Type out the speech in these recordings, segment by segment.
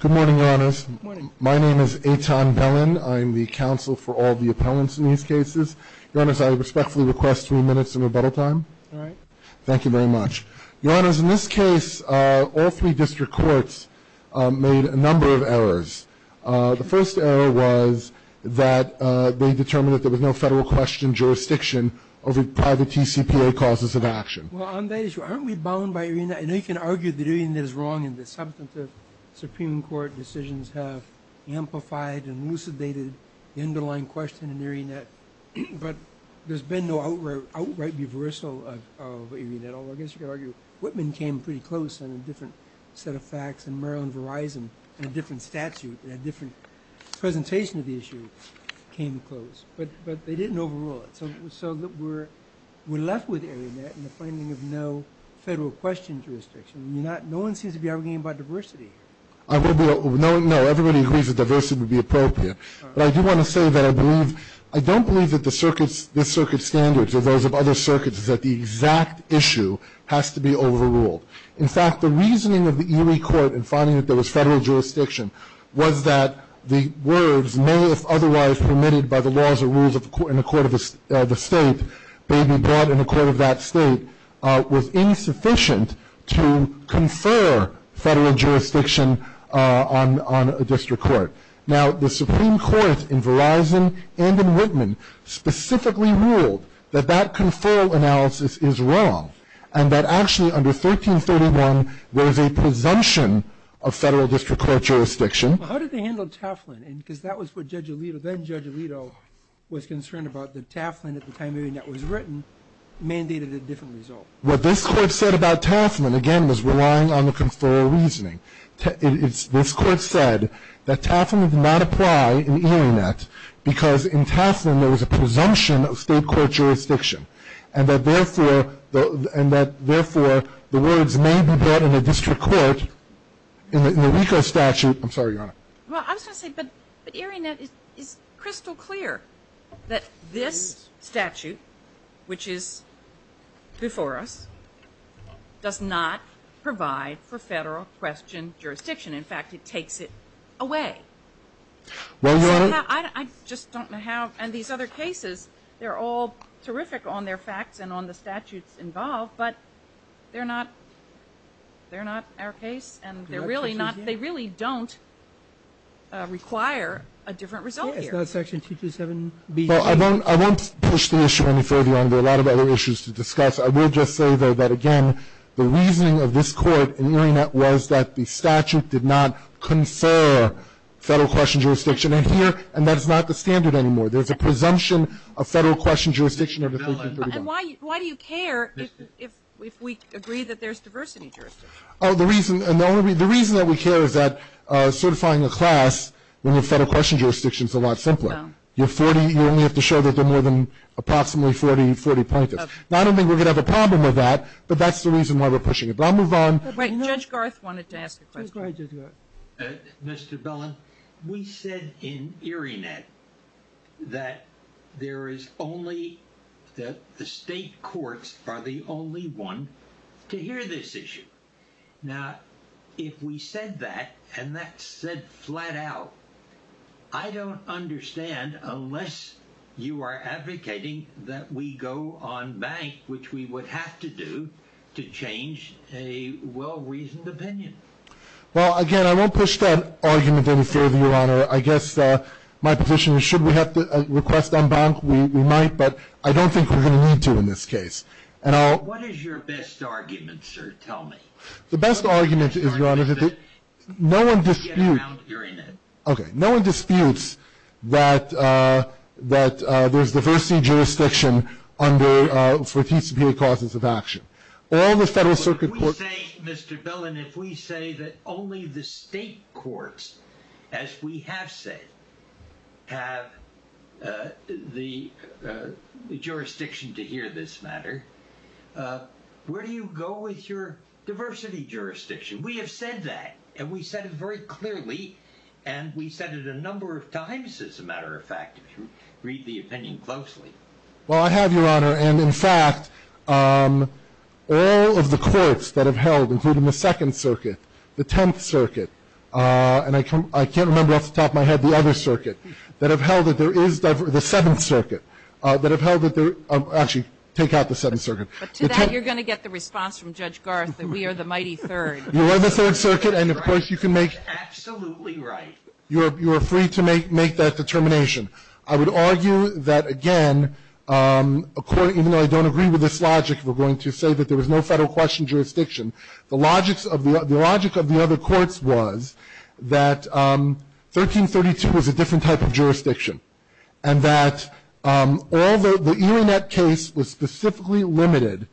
ATON BELLIN Good morning, Your Honors. ATON BELLIN Good morning. ATON BELLIN My name is Aton Bellin. I'm the counsel for all the appellants in these cases. Your Honors, I respectfully request three minutes of rebuttal time. ATON BELLIN All right. ATON BELLIN Thank you very much. Your Honors, in this case, all three district courts made a number of errors. The first error was that they determined that there was no federal question jurisdiction over private TCPA causes of action. ATON BELLIN Well, on that issue, aren't we bound by arena? I know you can argue that arena is wrong and the substantive Supreme Court decisions have amplified and elucidated the underlying question in arena, but there's been no outright reversal of arena at all. I guess you could argue Whitman came pretty close in a different set of facts and Maryland Verizon in a different statute and a different presentation of the issue came close. But they didn't overrule it. So we're left with arena in the finding of no federal question jurisdiction. No one seems to be arguing about diversity. ATON BELLIN No. Everybody agrees that diversity would be appropriate. But I do want to say that I don't believe that the circuit standards or those of other circuits is that the exact issue has to be overruled. In fact, the reasoning of the Erie Court in finding that there was federal jurisdiction was that the words may if otherwise permitted by the laws or rules in the court of the state may be brought in the court of that state was insufficient to confer federal jurisdiction on a district court. Now, the Supreme Court in Verizon and in Whitman specifically ruled that that conferral analysis is wrong and that actually under 1331 there is a presumption of federal district court jurisdiction. How did they handle Taflin? Because that was what Judge Alito, then Judge Alito, was concerned about, that Taflin at the time Erie Net was written mandated a different result. What this Court said about Taflin, again, was relying on the conferral reasoning. This Court said that Taflin did not apply in Erie Net because in Taflin there was a and that therefore the words may be brought in a district court in the RICO statute. I'm sorry, Your Honor. Well, I was going to say, but Erie Net is crystal clear that this statute, which is before us, does not provide for federal question jurisdiction. In fact, it takes it away. Well, Your Honor. I just don't know how. And these other cases, they're all terrific on their facts and on the statutes involved, but they're not our case and they really don't require a different result here. It's not Section 227BG. Well, I won't push the issue any further, Your Honor. There are a lot of other issues to discuss. I will just say, though, that, again, the reasoning of this Court in Erie Net was that the statute did not confer federal question jurisdiction. And here, and that is not the standard anymore. There's a presumption of federal question jurisdiction under 1331. And why do you care if we agree that there's diversity jurisdiction? Oh, the reason that we care is that certifying a class when you have federal question jurisdiction is a lot simpler. You only have to show that there are more than approximately 40 plaintiffs. Now, I don't think we're going to have a problem with that, but that's the reason why we're pushing it. But I'll move on. Judge Garth wanted to ask a question. Go ahead, Judge Garth. Mr. Bellin, we said in Erie Net that there is only the state courts are the only one to hear this issue. Now, if we said that, and that's said flat out, I don't understand unless you are advocating that we go on bank, which we would have to do to change a well-reasoned opinion. Well, again, I won't push that argument any further, Your Honor. I guess my position is should we have to request on bank? We might, but I don't think we're going to need to in this case. What is your best argument, sir? Tell me. The best argument is, Your Honor, that no one disputes that there's diversity jurisdiction for TCPA causes of action. But if we say, Mr. Bellin, if we say that only the state courts, as we have said, have the jurisdiction to hear this matter, where do you go with your diversity jurisdiction? We have said that, and we've said it very clearly, and we've said it a number of times, as a matter of fact, if you read the opinion closely. Well, I have, Your Honor. And, in fact, all of the courts that have held, including the Second Circuit, the Tenth Circuit, and I can't remember off the top of my head the other circuit, that have held that there is, the Seventh Circuit, that have held that there, actually, take out the Seventh Circuit. But to that, you're going to get the response from Judge Garth that we are the mighty third. You are the third circuit, and, of course, you can make. Absolutely right. You are free to make that determination. I would argue that, again, a court, even though I don't agree with this logic, we're going to say that there was no federal question jurisdiction, the logic of the other courts was that 1332 was a different type of jurisdiction and that all the, the Elanette case was specifically limited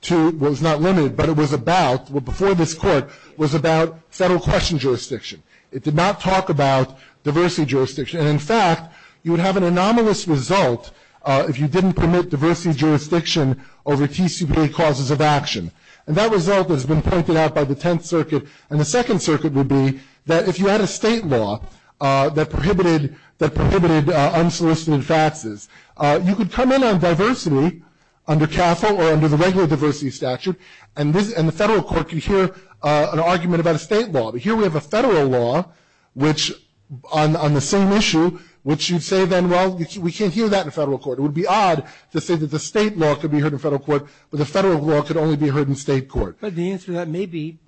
to, well, it was not limited, but it was about, well, before this court, was about federal question jurisdiction. It did not talk about diversity jurisdiction. And, in fact, you would have an anomalous result if you didn't permit diversity jurisdiction over TCPA causes of action. And that result has been pointed out by the Tenth Circuit. And the Second Circuit would be that if you had a state law that prohibited unsolicited faxes, you could come in on diversity under CAFL or under the regular diversity statute, and the federal court could hear an argument about a state law. But here we have a federal law which, on the same issue, which you'd say then, well, we can't hear that in federal court. It would be odd to say that the state law could be heard in federal court, but the federal law could only be heard in state court. But the answer to that may be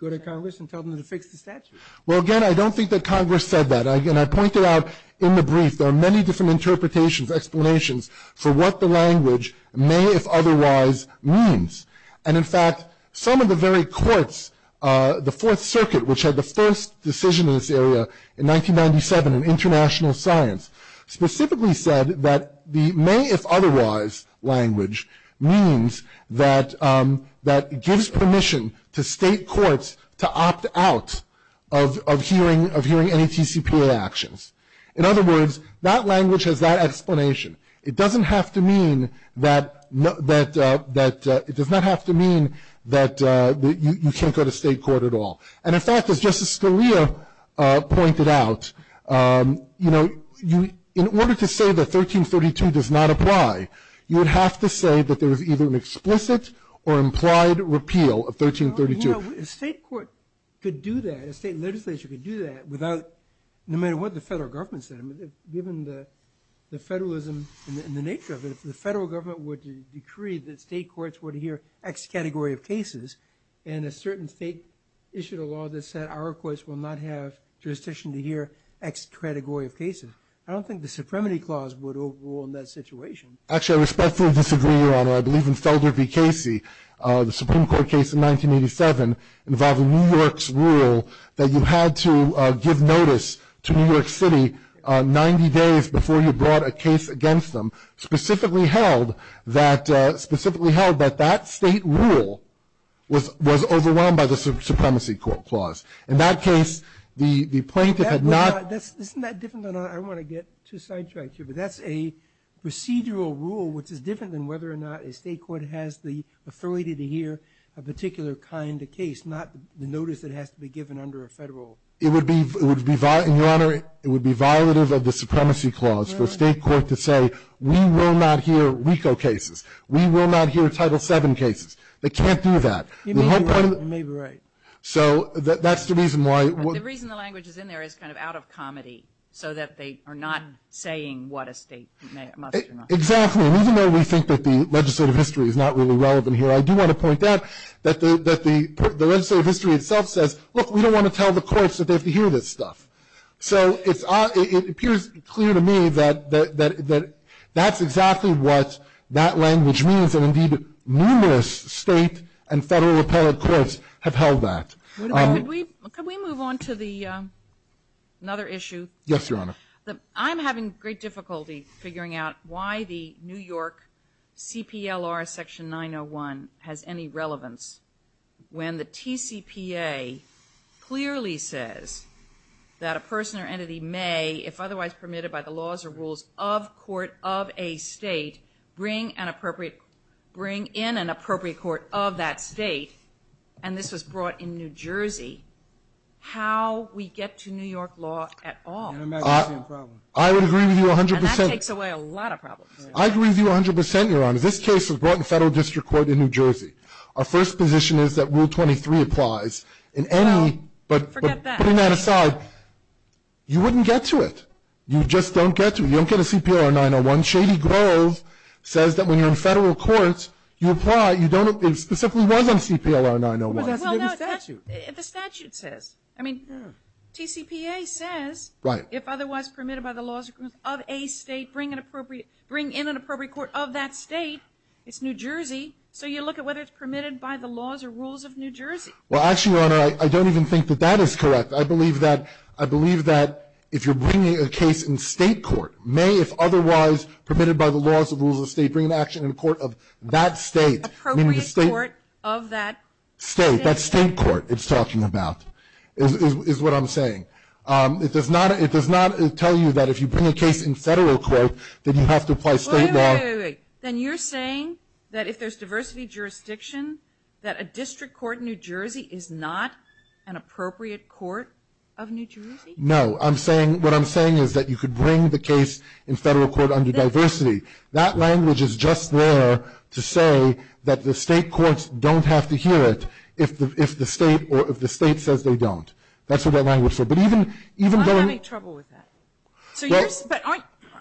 go to Congress and tell them to fix the statute. Well, again, I don't think that Congress said that. Again, I pointed out in the brief there are many different interpretations, explanations for what the language may, if otherwise, means. And, in fact, some of the very courts, the Fourth Circuit, which had the first decision in this area in 1997 in international science, specifically said that the may, if otherwise, language means that it gives permission to state courts to opt out of hearing any TCPA actions. In other words, that language has that explanation. It doesn't have to mean that you can't go to state court at all. And, in fact, as Justice Scalia pointed out, in order to say that 1332 does not apply, you would have to say that there is either an explicit or implied repeal of 1332. A state court could do that, a state legislature could do that, no matter what the federal government said. Given the federalism and the nature of it, if the federal government were to decree that state courts were to hear X category of cases and a certain state issued a law that said our courts will not have jurisdiction to hear X category of cases, I don't think the Supremacy Clause would overrule in that situation. Actually, I respectfully disagree, Your Honor. I believe in Felder v. Casey, the Supreme Court case in 1987 involving New York's rule that you had to give notice to New York City 90 days before you brought a case against them, specifically held that that state rule was overwhelmed by the Supremacy Clause. In that case, the plaintiff had not... Isn't that different than I want to get to side track here? But that's a procedural rule, which is different than whether or not a state court has the authority to hear a particular kind of case, not the notice that has to be given under a federal... It would be, Your Honor, it would be violative of the Supremacy Clause for a state court to say, we will not hear RICO cases, we will not hear Title VII cases. They can't do that. You may be right, you may be right. So that's the reason why... The reason the language is in there is kind of out of comedy, so that they are not saying what a state must or must not... Exactly, and even though we think that the legislative history is not really relevant here, I do want to point out that the legislative history itself says, look, we don't want to tell the courts that they have to hear this stuff. So it appears clear to me that that's exactly what that language means, and indeed numerous state and federal appellate courts have held that. Could we move on to another issue? Yes, Your Honor. I'm having great difficulty figuring out why the New York CPLR Section 901 has any relevance when the TCPA clearly says that a person or entity may, if otherwise permitted by the laws or rules of court of a state, bring in an appropriate court of that state, and this was brought in New Jersey, how we get to New York law at all. I would agree with you 100%. And that takes away a lot of problems. I agree with you 100%, Your Honor. This case was brought in federal district court in New Jersey. Our first position is that Rule 23 applies in any... No, forget that. But putting that aside, you wouldn't get to it. You just don't get to it. You don't get a CPLR 901. Shady Grove says that when you're in federal courts, you apply, you don't, it specifically was on CPLR 901. Well, that's what the statute says. I mean, TCPA says... Right. If otherwise permitted by the laws of a state, bring in an appropriate court of that state, it's New Jersey, so you look at whether it's permitted by the laws or rules of New Jersey. Well, actually, Your Honor, I don't even think that that is correct. I believe that if you're bringing a case in state court, may if otherwise permitted by the laws or rules of the state, bring an action in court of that state. Appropriate court of that state. That state court it's talking about is what I'm saying. It does not tell you that if you bring a case in federal court, that you have to apply state law. Wait, wait, wait. Then you're saying that if there's diversity jurisdiction, that a district court in New Jersey is not an appropriate court of New Jersey? No. What I'm saying is that you could bring the case in federal court under diversity. That language is just there to say that the state courts don't have to hear it if the state says they don't. That's what that language is for. I don't want to make trouble with that. But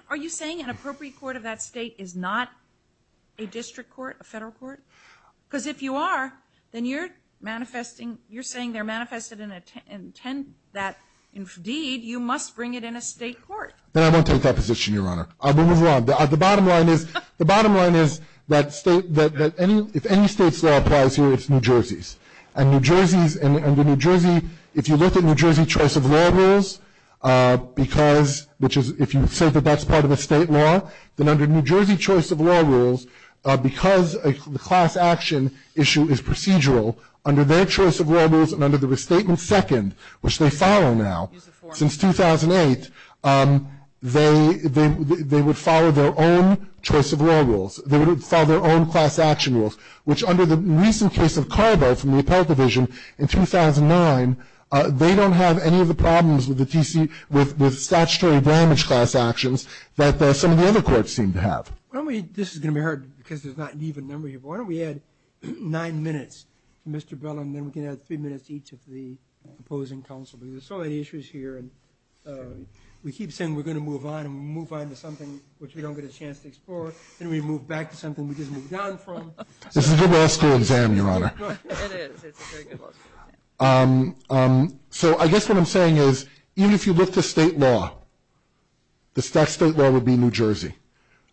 are you saying an appropriate court of that state is not a district court, a federal court? Because if you are, then you're manifesting, you're saying they're manifested in intent that indeed you must bring it in a state court. Then I won't take that position, Your Honor. I'll move on. The bottom line is, the bottom line is that state, that if any state's law applies here, it's New Jersey's. And New Jersey, if you look at New Jersey choice of law rules, because if you say that that's part of a state law, then under New Jersey choice of law rules, because the class action issue is procedural, under their choice of law rules and under the restatement second, which they follow now since 2008, they would follow their own choice of law rules. They would follow their own class action rules, which under the recent case of Carvel from the Appellate Division in 2009, they don't have any of the problems with the T.C., with statutory damage class actions that some of the other courts seem to have. Why don't we, this is going to be hard because there's not an even number here, but why don't we add nine minutes to Mr. Bell, and then we can add three minutes to each of the opposing counsel. Because there's so many issues here, and we keep saying we're going to move on, and we move back to something we just moved on from. This is a good law school exam, Your Honor. It is, it's a very good law school exam. So I guess what I'm saying is even if you look to state law, the state law would be New Jersey.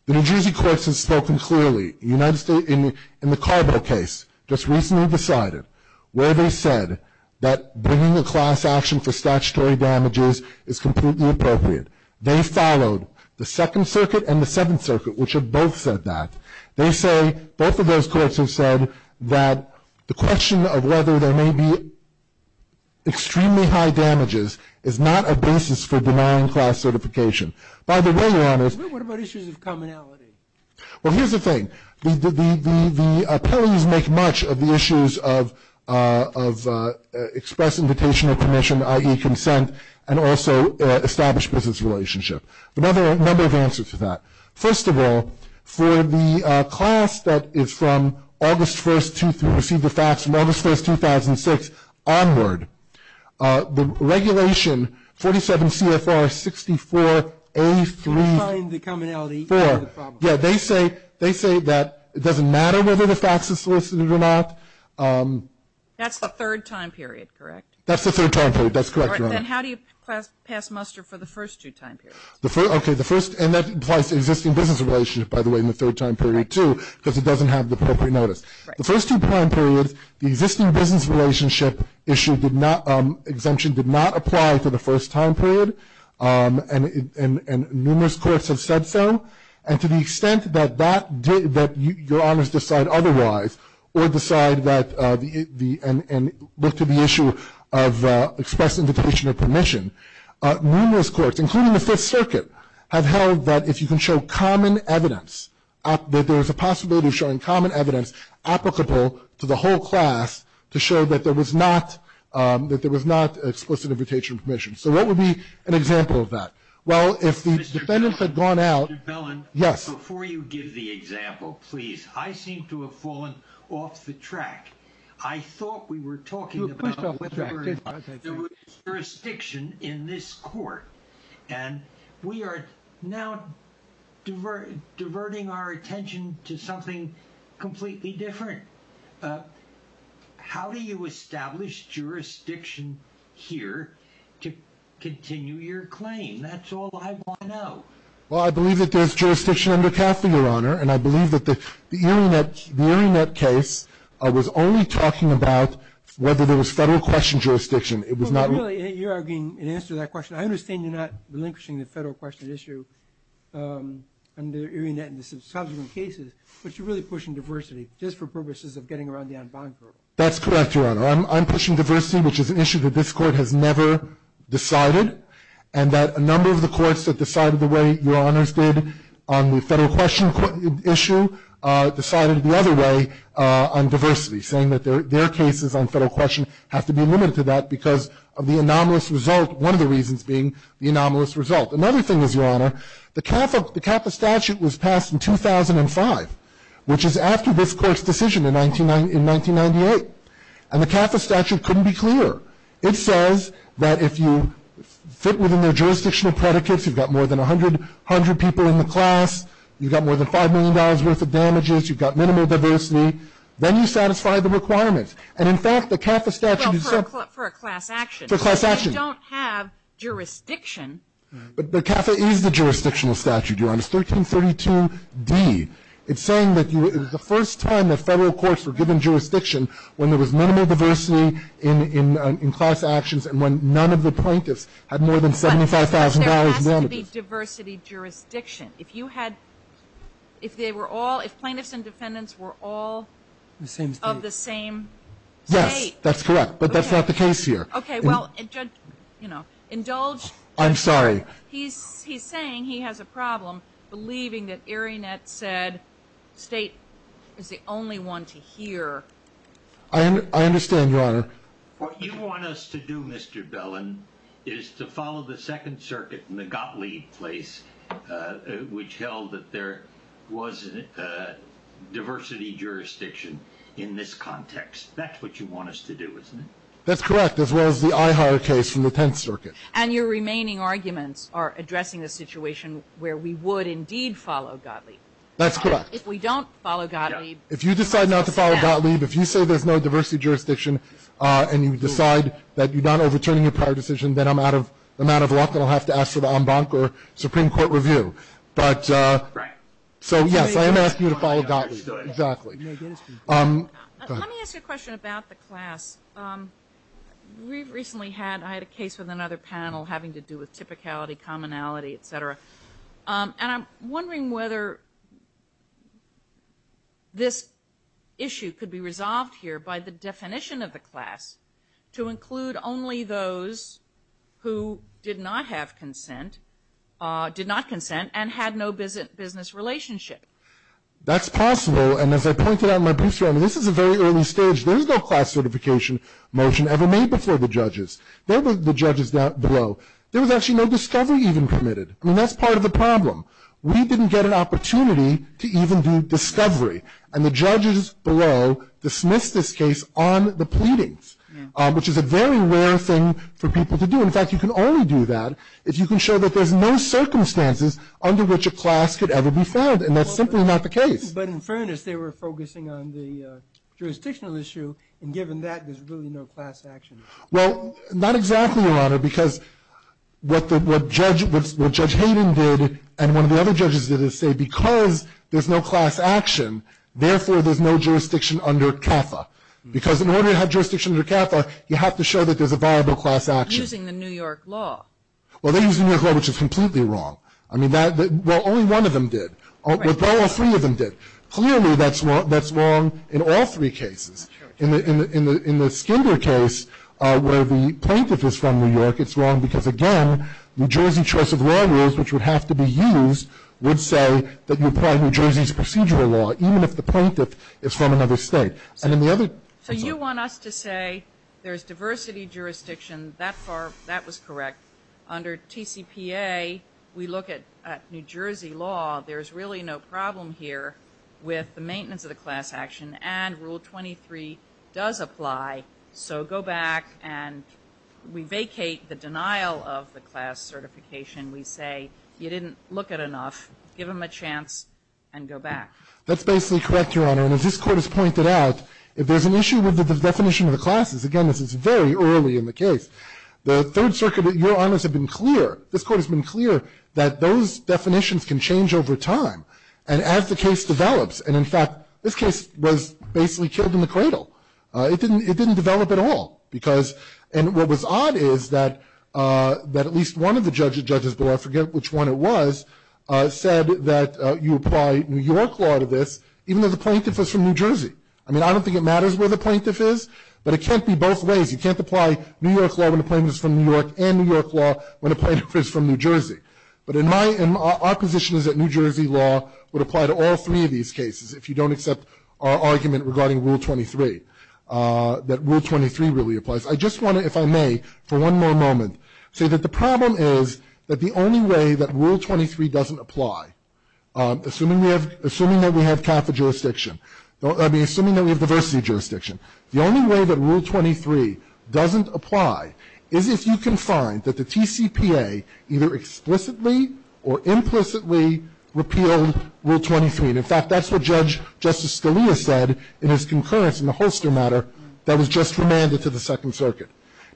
The New Jersey courts have spoken clearly. In the Carvel case, just recently decided, where they said that bringing a class action for statutory damages is completely appropriate. They followed the Second Circuit and the Seventh Circuit, which have both said that. They say, both of those courts have said that the question of whether there may be extremely high damages is not a basis for denying class certification. By the way, Your Honor. What about issues of commonality? Well, here's the thing. The appellees make much of the issues of express invitation of permission, i.e. consent, and also established business relationship. A number of answers to that. First of all, for the class that is from August 1st, 2003, received the fax from August 1st, 2006, onward, the regulation 47 CFR 64A3- Define the commonality for the problem. Yeah, they say that it doesn't matter whether the fax is solicited or not. That's the third time period, correct? That's the third time period. That's correct, Your Honor. Then how do you pass muster for the first two time periods? Okay. The first, and that applies to existing business relationship, by the way, in the third time period, too, because it doesn't have the appropriate notice. The first two time periods, the existing business relationship issue did not, exemption did not apply to the first time period, and numerous courts have said so. And to the extent that that, that Your Honors decide otherwise or decide that the, and look to the issue of express invitation or permission, numerous courts, including the Fifth Circuit, have held that if you can show common evidence, that there's a possibility of showing common evidence applicable to the whole class to show that there was not, that there was not explicit invitation or permission. So what would be an example of that? Well, if the defendants had gone out. Mr. Bellin. Yes. Before you give the example, please, I seem to have fallen off the track. I thought we were talking about jurisdiction in this court, and we are now diverting our attention to something completely different. How do you establish jurisdiction here to continue your claim? That's all I want to know. Well, I believe that there's jurisdiction under CAFTA, Your Honor, and I believe that the Erionet case was only talking about whether there was federal question jurisdiction. It was not really. You're arguing in answer to that question. I understand you're not relinquishing the federal question issue under Erionet in the subsequent cases, but you're really pushing diversity just for purposes of getting around the en banc rule. That's correct, Your Honor. I'm pushing diversity, which is an issue that this Court has never decided, and that a number of the courts that decided the way Your Honors did on the federal question issue decided the other way on diversity, saying that their cases on federal question have to be limited to that because of the anomalous result, one of the reasons being the anomalous result. Another thing is, Your Honor, the CAFTA statute was passed in 2005, which is after this Court's decision in 1998, and the CAFTA statute couldn't be clearer. It says that if you fit within their jurisdictional predicates, you've got more than 100 people in the class, you've got more than $5 million worth of damages, you've got minimal diversity, then you satisfy the requirements. And, in fact, the CAFTA statute is so. Well, for a class action. For a class action. You don't have jurisdiction. But the CAFTA is the jurisdictional statute, Your Honors, 1332D. It's saying that the first time the federal courts were given jurisdiction, when there was minimal diversity in class actions and when none of the plaintiffs had more than $75,000 in damages. But there has to be diversity jurisdiction. If you had, if they were all, if plaintiffs and defendants were all of the same state. Yes, that's correct, but that's not the case here. Okay, well, you know, indulge. I'm sorry. He's saying he has a problem believing that Arionet said state is the only one to hear. I understand, Your Honor. What you want us to do, Mr. Bellin, is to follow the Second Circuit and the Gottlieb case which held that there was diversity jurisdiction in this context. That's what you want us to do, isn't it? That's correct, as well as the Eiheier case from the Tenth Circuit. And your remaining arguments are addressing the situation where we would indeed follow Gottlieb. That's correct. If we don't follow Gottlieb. If you decide not to follow Gottlieb, if you say there's no diversity jurisdiction and you decide that you're not overturning your prior decision, then I'm out of luck and I'll have to ask for the en banc or Supreme Court review. Right. So, yes, I am asking you to follow Gottlieb. Exactly. Let me ask you a question about the class. We recently had, I had a case with another panel having to do with typicality, commonality, et cetera. And I'm wondering whether this issue could be resolved here by the definition of the class to include only those who did not have consent, did not consent, and had no business relationship. That's possible. And as I pointed out in my brief statement, this is a very early stage. There is no class certification motion ever made before the judges. They're the judges below. There was actually no discovery even permitted. I mean, that's part of the problem. We didn't get an opportunity to even do discovery. And the judges below dismissed this case on the pleadings, which is a very rare thing for people to do. In fact, you can only do that if you can show that there's no circumstances under which a class could ever be found. And that's simply not the case. But in fairness, they were focusing on the jurisdictional issue. And given that, there's really no class action. Well, not exactly, Your Honor, because what Judge Hayden did and one of the other judges did is say because there's no class action, therefore, there's no jurisdiction under CAFA. Because in order to have jurisdiction under CAFA, you have to show that there's a viable class action. Using the New York law. Well, they used the New York law, which is completely wrong. I mean, well, only one of them did. All three of them did. Clearly, that's wrong in all three cases. In the Skinder case, where the plaintiff is from New York, it's wrong because, again, New Jersey choice of law rules, which would have to be used, would say that you apply New Jersey's procedural law, even if the plaintiff is from another state. And in the other case also. So you want us to say there's diversity jurisdiction. That was correct. Under TCPA, we look at New Jersey law. There's really no problem here with the maintenance of the class action. And Rule 23 does apply. So go back and we vacate the denial of the class certification. We say you didn't look at enough. Give them a chance and go back. That's basically correct, Your Honor. And as this Court has pointed out, if there's an issue with the definition of the classes, again, this is very early in the case. The Third Circuit, Your Honors, have been clear, this Court has been clear that those And as the case develops, and in fact, this case was basically killed in the cradle. It didn't develop at all. And what was odd is that at least one of the judges, I forget which one it was, said that you apply New York law to this, even though the plaintiff was from New Jersey. I mean, I don't think it matters where the plaintiff is, but it can't be both ways. You can't apply New York law when the plaintiff is from New York and New York law when the plaintiff is from New Jersey. But our position is that New Jersey law would apply to all three of these cases if you don't accept our argument regarding Rule 23, that Rule 23 really applies. I just want to, if I may, for one more moment, say that the problem is that the only way that Rule 23 doesn't apply, assuming that we have CAFA jurisdiction, I mean, assuming that we have diversity jurisdiction, the only way that Rule 23 doesn't apply is if you can find that the TCPA either explicitly or implicitly repealed Rule 23. And in fact, that's what Judge Justice Scalia said in his concurrence in the holster matter that was just remanded to the Second Circuit.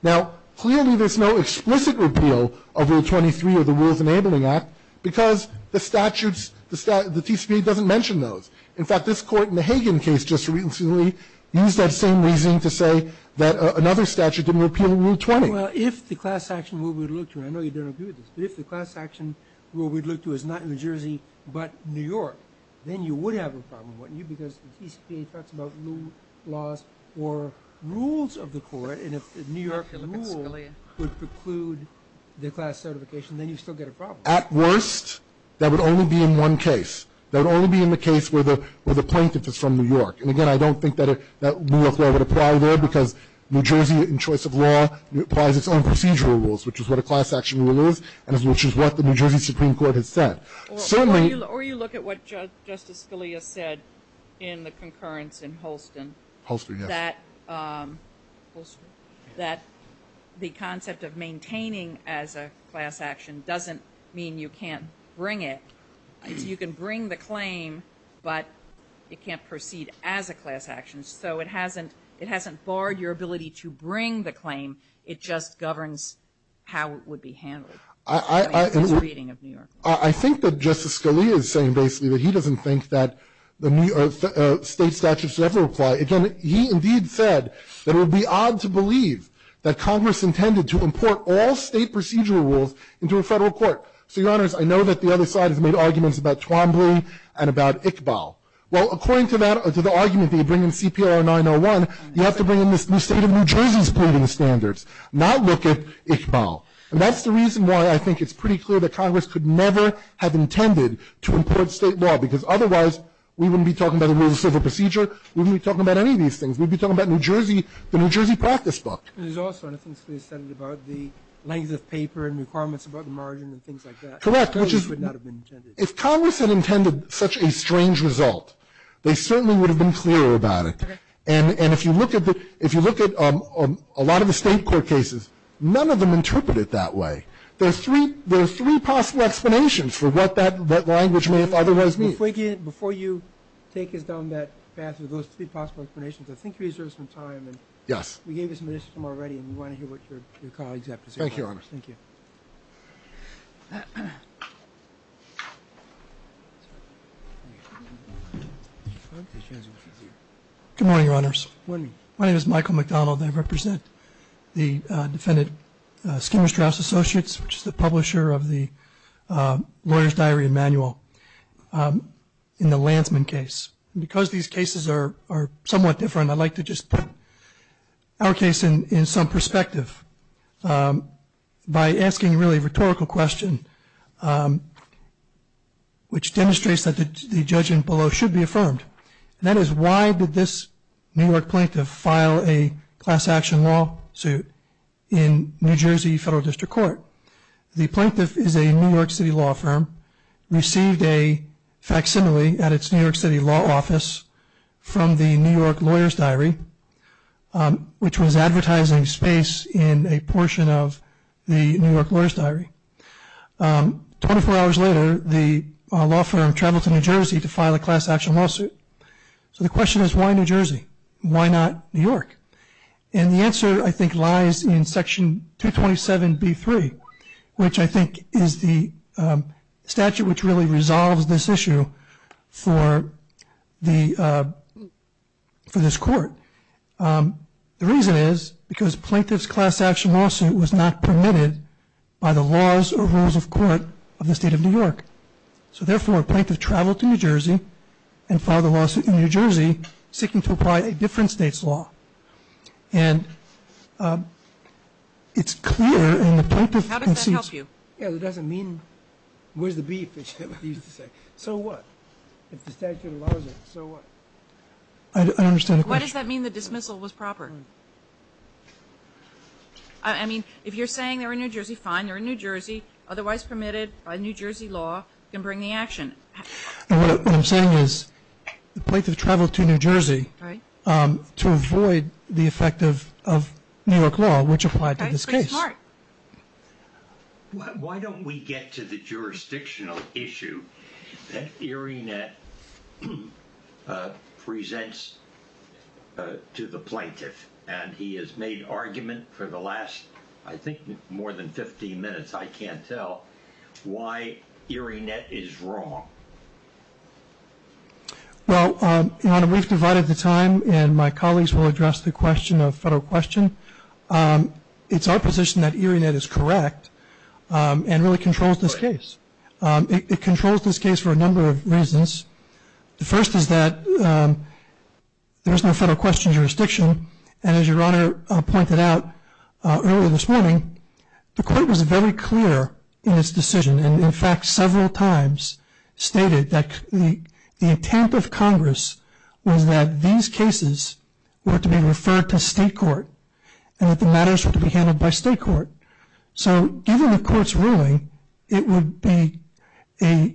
Now, clearly there's no explicit repeal of Rule 23 or the Rules Enabling Act because the statutes, the TCPA doesn't mention those. In fact, this court in the Hagen case just recently used that same reasoning to say that another statute didn't repeal Rule 20. Well, if the class action rule we'd look to, and I know you don't agree with this, but if the class action rule we'd look to is not New Jersey but New York, then you would have a problem, wouldn't you? Because the TCPA talks about new laws or rules of the court, and if the New York rule would preclude the class certification, then you'd still get a problem. At worst, that would only be in one case. That would only be in the case where the plaintiff is from New York. And again, I don't think that New York law would apply there because New Jersey in choice of law applies its own procedural rules, which is what a class action rule is and which is what the New Jersey Supreme Court has said. Certainly — Or you look at what Justice Scalia said in the concurrence in Holston. Holston, yes. That the concept of maintaining as a class action doesn't mean you can't bring it. You can bring the claim, but it can't proceed as a class action. So it hasn't — it hasn't barred your ability to bring the claim. It just governs how it would be handled in this reading of New York law. I think that Justice Scalia is saying basically that he doesn't think that the state statutes would ever apply. Again, he indeed said that it would be odd to believe that Congress intended to import all state procedural rules into a Federal court. So, Your Honors, I know that the other side has made arguments about Twombly and about Iqbal. Well, according to that — to the argument that you bring in CPR 901, you have to bring in the state of New Jersey's proving standards, not look at Iqbal. And that's the reason why I think it's pretty clear that Congress could never have intended to import state law, because otherwise we wouldn't be talking about the rules of civil procedure. We wouldn't be talking about any of these things. We'd be talking about New Jersey — the New Jersey practice book. And there's also, and I think Scalia said it about the length of paper and requirements about the margin and things like that. Correct, which is — I know this would not have been intended. If Congress had intended such a strange result, they certainly would have been clearer about it. Okay. And if you look at the — if you look at a lot of the State court cases, none of them interpret it that way. There are three — there are three possible explanations for what that — what language may have otherwise been. Before you take us down that path of those three possible explanations, I think you reserve some time. Yes. We gave you some time already, and we want to hear what your colleagues have to say. Thank you, Your Honors. Thank you. Good morning, Your Honors. Good morning. My name is Michael McDonald. I represent the defendant, Skinner Strauss Associates, which is the publisher of the lawyer's diary and manual in the Lantzman case. And because these cases are somewhat different, I'd like to just put our case in some perspective. By asking, really, a rhetorical question, which demonstrates that the judgment below should be affirmed. And that is, why did this New York plaintiff file a class action law suit in New Jersey Federal District Court? The plaintiff is a New York City law firm, received a facsimile at its New York City law office from the New York Lawyer's Diary, which was advertising space in a portion of the New York Lawyer's Diary. Twenty-four hours later, the law firm traveled to New Jersey to file a class action lawsuit. So the question is, why New Jersey? Why not New York? And the answer, I think, lies in Section 227B3, which I think is the statute which really resolves this issue for this court. The reason is because plaintiff's class action lawsuit was not permitted by the laws or rules of court of the state of New York. So therefore, a plaintiff traveled to New Jersey and filed a lawsuit in New Jersey seeking to apply a different state's law. And it's clear in the plaintiff's case. How does that help you? Yeah, it doesn't mean where's the beef, as you used to say. So what? If the statute allows it, so what? I don't understand the question. Why does that mean the dismissal was proper? I mean, if you're saying they're in New Jersey, fine, they're in New Jersey. Otherwise permitted by New Jersey law, you can bring the action. What I'm saying is the plaintiff traveled to New Jersey to avoid the effect of New York law, which applied to this case. Why don't we get to the jurisdictional issue that Erie Nett presents to the plaintiff? And he has made argument for the last, I think, more than 15 minutes, I can't tell, why Erie Nett is wrong. Well, we've divided the time, and my colleagues will address the question of federal question. It's our position that Erie Nett is correct and really controls this case. It controls this case for a number of reasons. The first is that there is no federal question jurisdiction. And as Your Honor pointed out earlier this morning, the court was very clear in its decision and in fact several times stated that the intent of Congress was that these cases were to be referred to state court and that the matters were to be handled by state court. So given the court's ruling, it would be a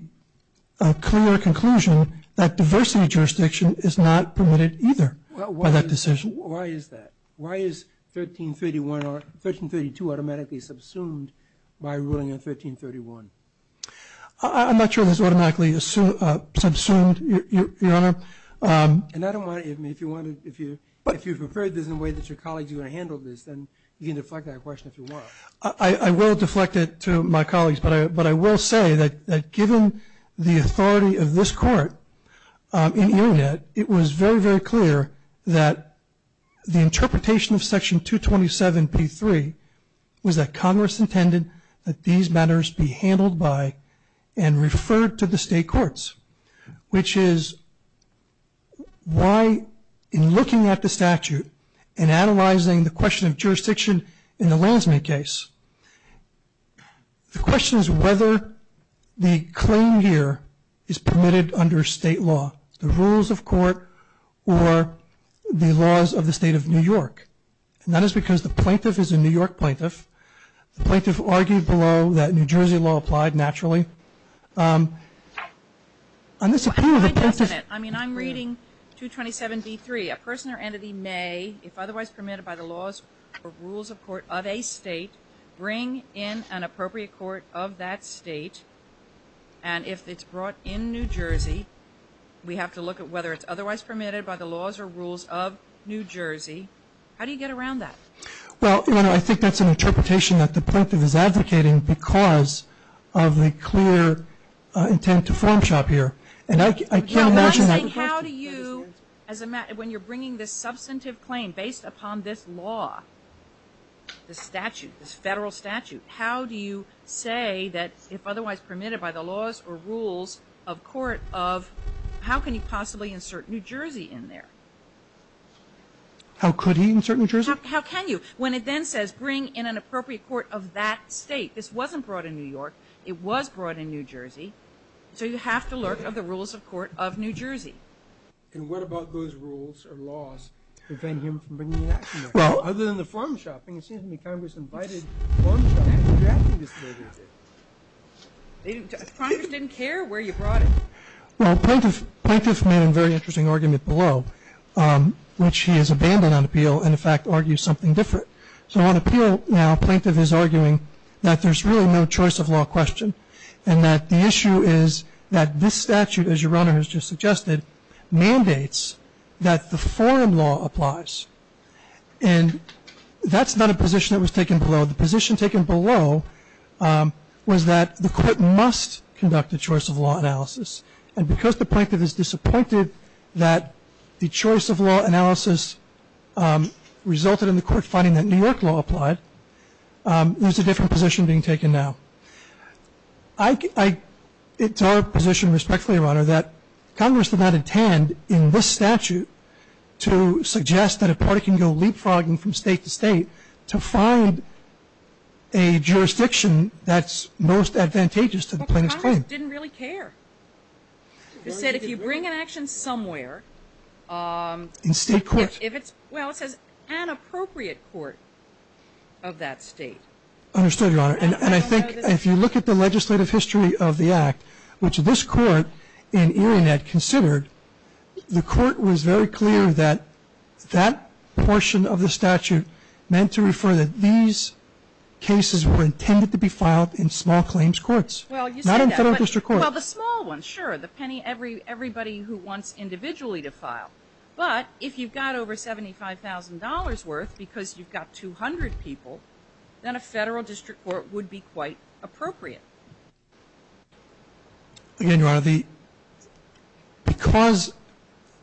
clear conclusion that diversity jurisdiction is not permitted either by that decision. Why is that? Why is 1332 automatically subsumed by ruling in 1331? I'm not sure it was automatically subsumed, Your Honor. If you preferred this in a way that your colleagues were going to handle this, then you can deflect that question if you want. I will deflect it to my colleagues, but I will say that given the authority of this court in Erie Nett, it was very, very clear that the interpretation of Section 227b3 was that Congress intended that these matters be handled by and referred to the state courts, which is why in looking at the statute and analyzing the question of jurisdiction in the Lansman case, the question is whether the claim here is permitted under state law. The rules of court or the laws of the State of New York. And that is because the plaintiff is a New York plaintiff. The plaintiff argued below that New Jersey law applied naturally. On this appeal, the plaintiff ---- I mean, I'm reading 227b3. A person or entity may, if otherwise permitted by the laws or rules of court of a state, bring in an appropriate court of that state. And if it's brought in New Jersey, we have to look at whether it's otherwise permitted by the laws or rules of New Jersey. How do you get around that? Well, you know, I think that's an interpretation that the plaintiff is advocating because of the clear intent to form shop here. And I can't imagine that ---- No, I'm saying how do you, when you're bringing this substantive claim based upon this law, this statute, this federal statute, how do you say that if otherwise permitted by the laws or rules of court of, how can he possibly insert New Jersey in there? How could he insert New Jersey? How can you? When it then says bring in an appropriate court of that state. This wasn't brought in New York. It was brought in New Jersey. So you have to look at the rules of court of New Jersey. And what about those rules or laws that prevent him from bringing it in New York? Well, other than the form shopping, it seems to me Congress invited form shopping. Congress didn't care where you brought it. Well, plaintiff made a very interesting argument below, which he has abandoned on appeal and, in fact, argues something different. So on appeal now plaintiff is arguing that there's really no choice of law question and that the issue is that this statute, as your Honor has just suggested, mandates that the foreign law applies. And that's not a position that was taken below. The position taken below was that the court must conduct a choice of law analysis. And because the plaintiff is disappointed that the choice of law analysis resulted in the court finding that New York law applied, there's a different position being taken now. It's our position respectfully, Your Honor, that Congress did not intend in this statute to suggest that a party can go leapfrogging from state to state to find a jurisdiction that's most advantageous to the plaintiff's claim. But Congress didn't really care. It said if you bring an action somewhere. In state court. Well, it says an appropriate court of that state. Understood, Your Honor. And I think if you look at the legislative history of the act, which this court in Erionet considered, the court was very clear that that portion of the statute meant to refer that these cases were intended to be filed in small claims courts. Not in federal district courts. Well, the small ones, sure. The penny everybody who wants individually to file. But if you've got over $75,000 worth because you've got 200 people, then a federal district court would be quite appropriate. Again, Your Honor, because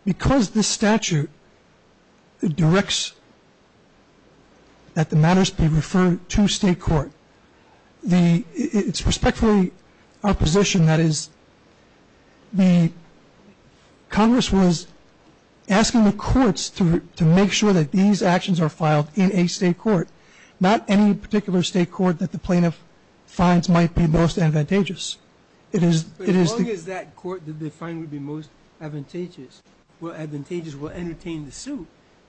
this statute directs that the matters be referred to state court, it's respectfully our position that is the Congress was asking the courts to make sure that these actions are filed in a state court, not any particular state court that the plaintiff finds might be most advantageous. But as long as that court that they find would be most advantageous will entertain the suit,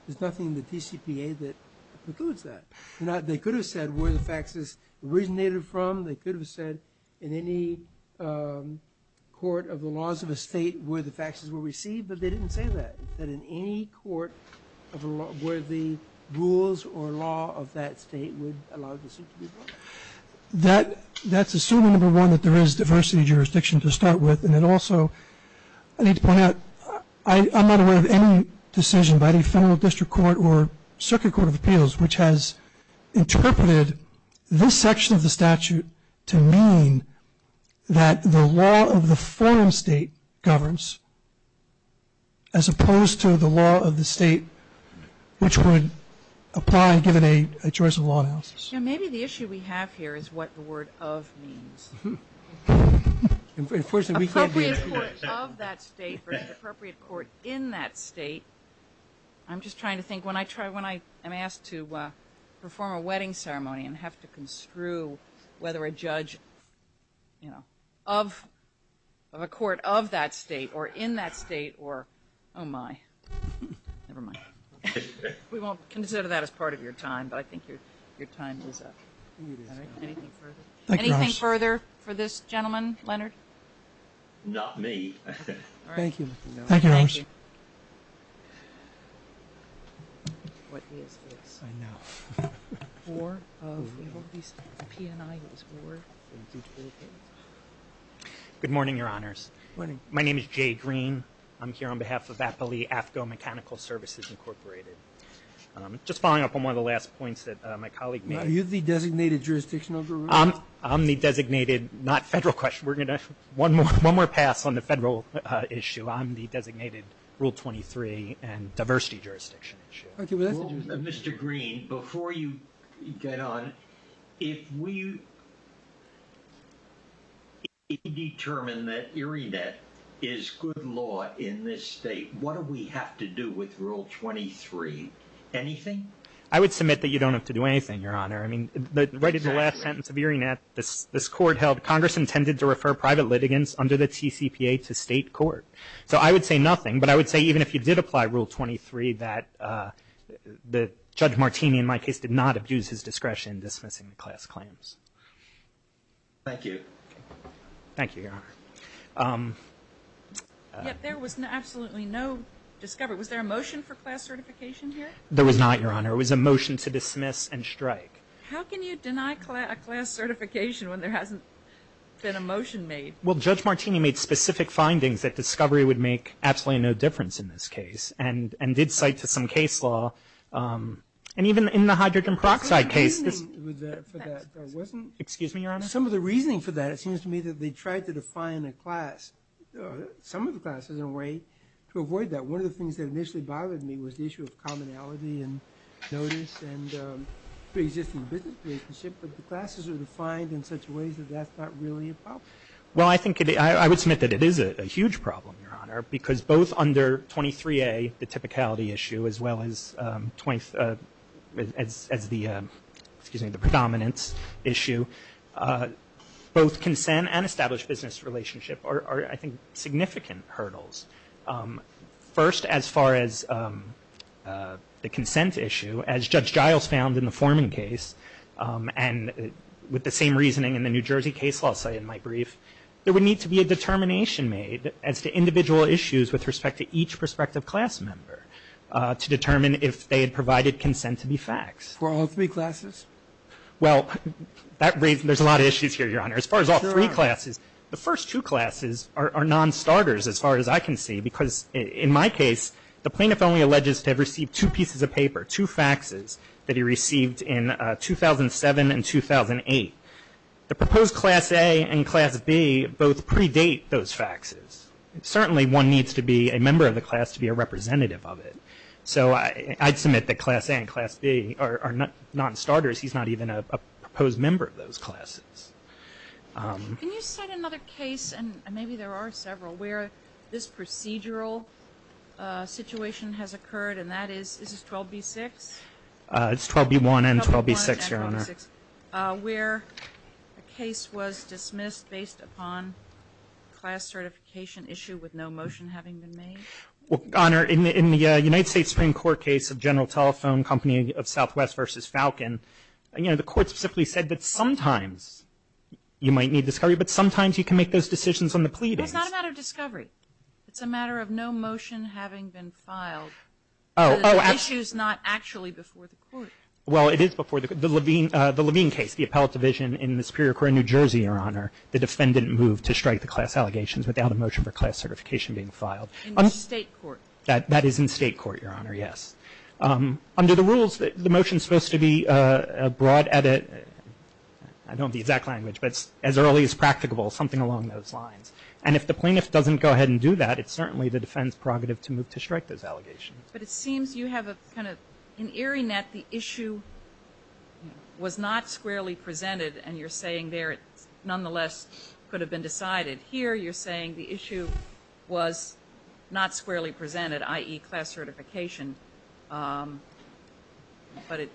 there's nothing in the TCPA that precludes that. They could have said where the faxes originated from. They could have said in any court of the laws of a state where the faxes were received, but they didn't say that. Is that in any court where the rules or law of that state would allow the suit to be brought? That's assuming, number one, that there is diversity of jurisdiction to start with, and it also I need to point out I'm not aware of any decision by the federal district court or circuit court of appeals which has interpreted this section of the statute to mean that the law of the forum state governs, as opposed to the law of the state which would apply given a choice of law analysis. Maybe the issue we have here is what the word of means. Appropriate court of that state or appropriate court in that state. I'm just trying to think. When I'm asked to perform a wedding ceremony and have to construe whether a judge of a court of that state or in that state or, oh, my. Never mind. We won't consider that as part of your time, but I think your time is up. Anything further? Anything further for this gentleman, Leonard? Not me. Thank you. Thank you. Good morning, Your Honors. Good morning. My name is Jay Green. I'm here on behalf of AFCO Mechanical Services Incorporated. Just following up on one of the last points that my colleague made. Are you the designated jurisdictional guru? I'm the designated, not federal question. We're going to have one more pass on the federal issue. I'm the designated Rule 23 and diversity jurisdiction issue. Mr. Green, before you get on, if we determine that IRINET is good law in this state, what do we have to do with Rule 23? Anything? I would submit that you don't have to do anything, Your Honor. I mean, right in the last sentence of IRINET, this court held, Congress intended to refer private litigants under the TCPA to state court. So I would say nothing, but I would say even if you did apply Rule 23, that Judge Martini, in my case, did not abuse his discretion in dismissing the class claims. Thank you. Thank you, Your Honor. Yet there was absolutely no discovery. Was there a motion for class certification here? There was not, Your Honor. There was a motion to dismiss and strike. How can you deny a class certification when there hasn't been a motion made? Well, Judge Martini made specific findings that discovery would make absolutely no difference in this case and did cite to some case law, and even in the hydrogen peroxide case. Some of the reasoning for that, it seems to me, that they tried to define a class, some of the classes in a way to avoid that. One of the things that initially bothered me was the issue of commonality and notice and pre-existing business relationship, but the classes are defined in such ways that that's not really a problem. Well, I think I would submit that it is a huge problem, Your Honor, because both under 23A, the typicality issue, as well as the predominance issue, both consent and established business relationship are, I think, significant hurdles. First, as far as the consent issue, as Judge Giles found in the Forman case, and with the same reasoning in the New Jersey case law site in my brief, there would need to be a determination made as to individual issues with respect to each prospective class member to determine if they had provided consent to be faxed. For all three classes? Well, that raises a lot of issues here, Your Honor. Sure. As far as all three classes, the first two classes are non-starters as far as I can see because, in my case, the plaintiff only alleges to have received two pieces of paper, two faxes that he received in 2007 and 2008. The proposed Class A and Class B both predate those faxes. Certainly, one needs to be a member of the class to be a representative of it. So I'd submit that Class A and Class B are non-starters. He's not even a proposed member of those classes. Can you cite another case, and maybe there are several, where this procedural situation has occurred, and that is 12B-6? It's 12B-1 and 12B-6, Your Honor. 12B-1 and 12B-6, where a case was dismissed based upon a class certification issue with no motion having been made? Well, Your Honor, in the United States Supreme Court case of General Telephone, Company of Southwest v. Falcon, the court simply said that sometimes you might need discovery, but sometimes you can make those decisions on the pleadings. Well, it's not a matter of discovery. It's a matter of no motion having been filed. Oh, oh. The issue is not actually before the court. Well, it is before the court. The Levine case, the appellate division in the Superior Court in New Jersey, Your Honor, the defendant moved to strike the class allegations without a motion for class certification being filed. In the state court. That is in state court, Your Honor, yes. Under the rules, the motion is supposed to be a broad edit. I don't have the exact language, but it's as early as practicable, something along those lines. And if the plaintiff doesn't go ahead and do that, it's certainly the defendant's prerogative to move to strike those allegations. But it seems you have a kind of an eerie net. The issue was not squarely presented, and you're saying there it nonetheless could have been decided. Here you're saying the issue was not squarely presented, i.e., class certification, but it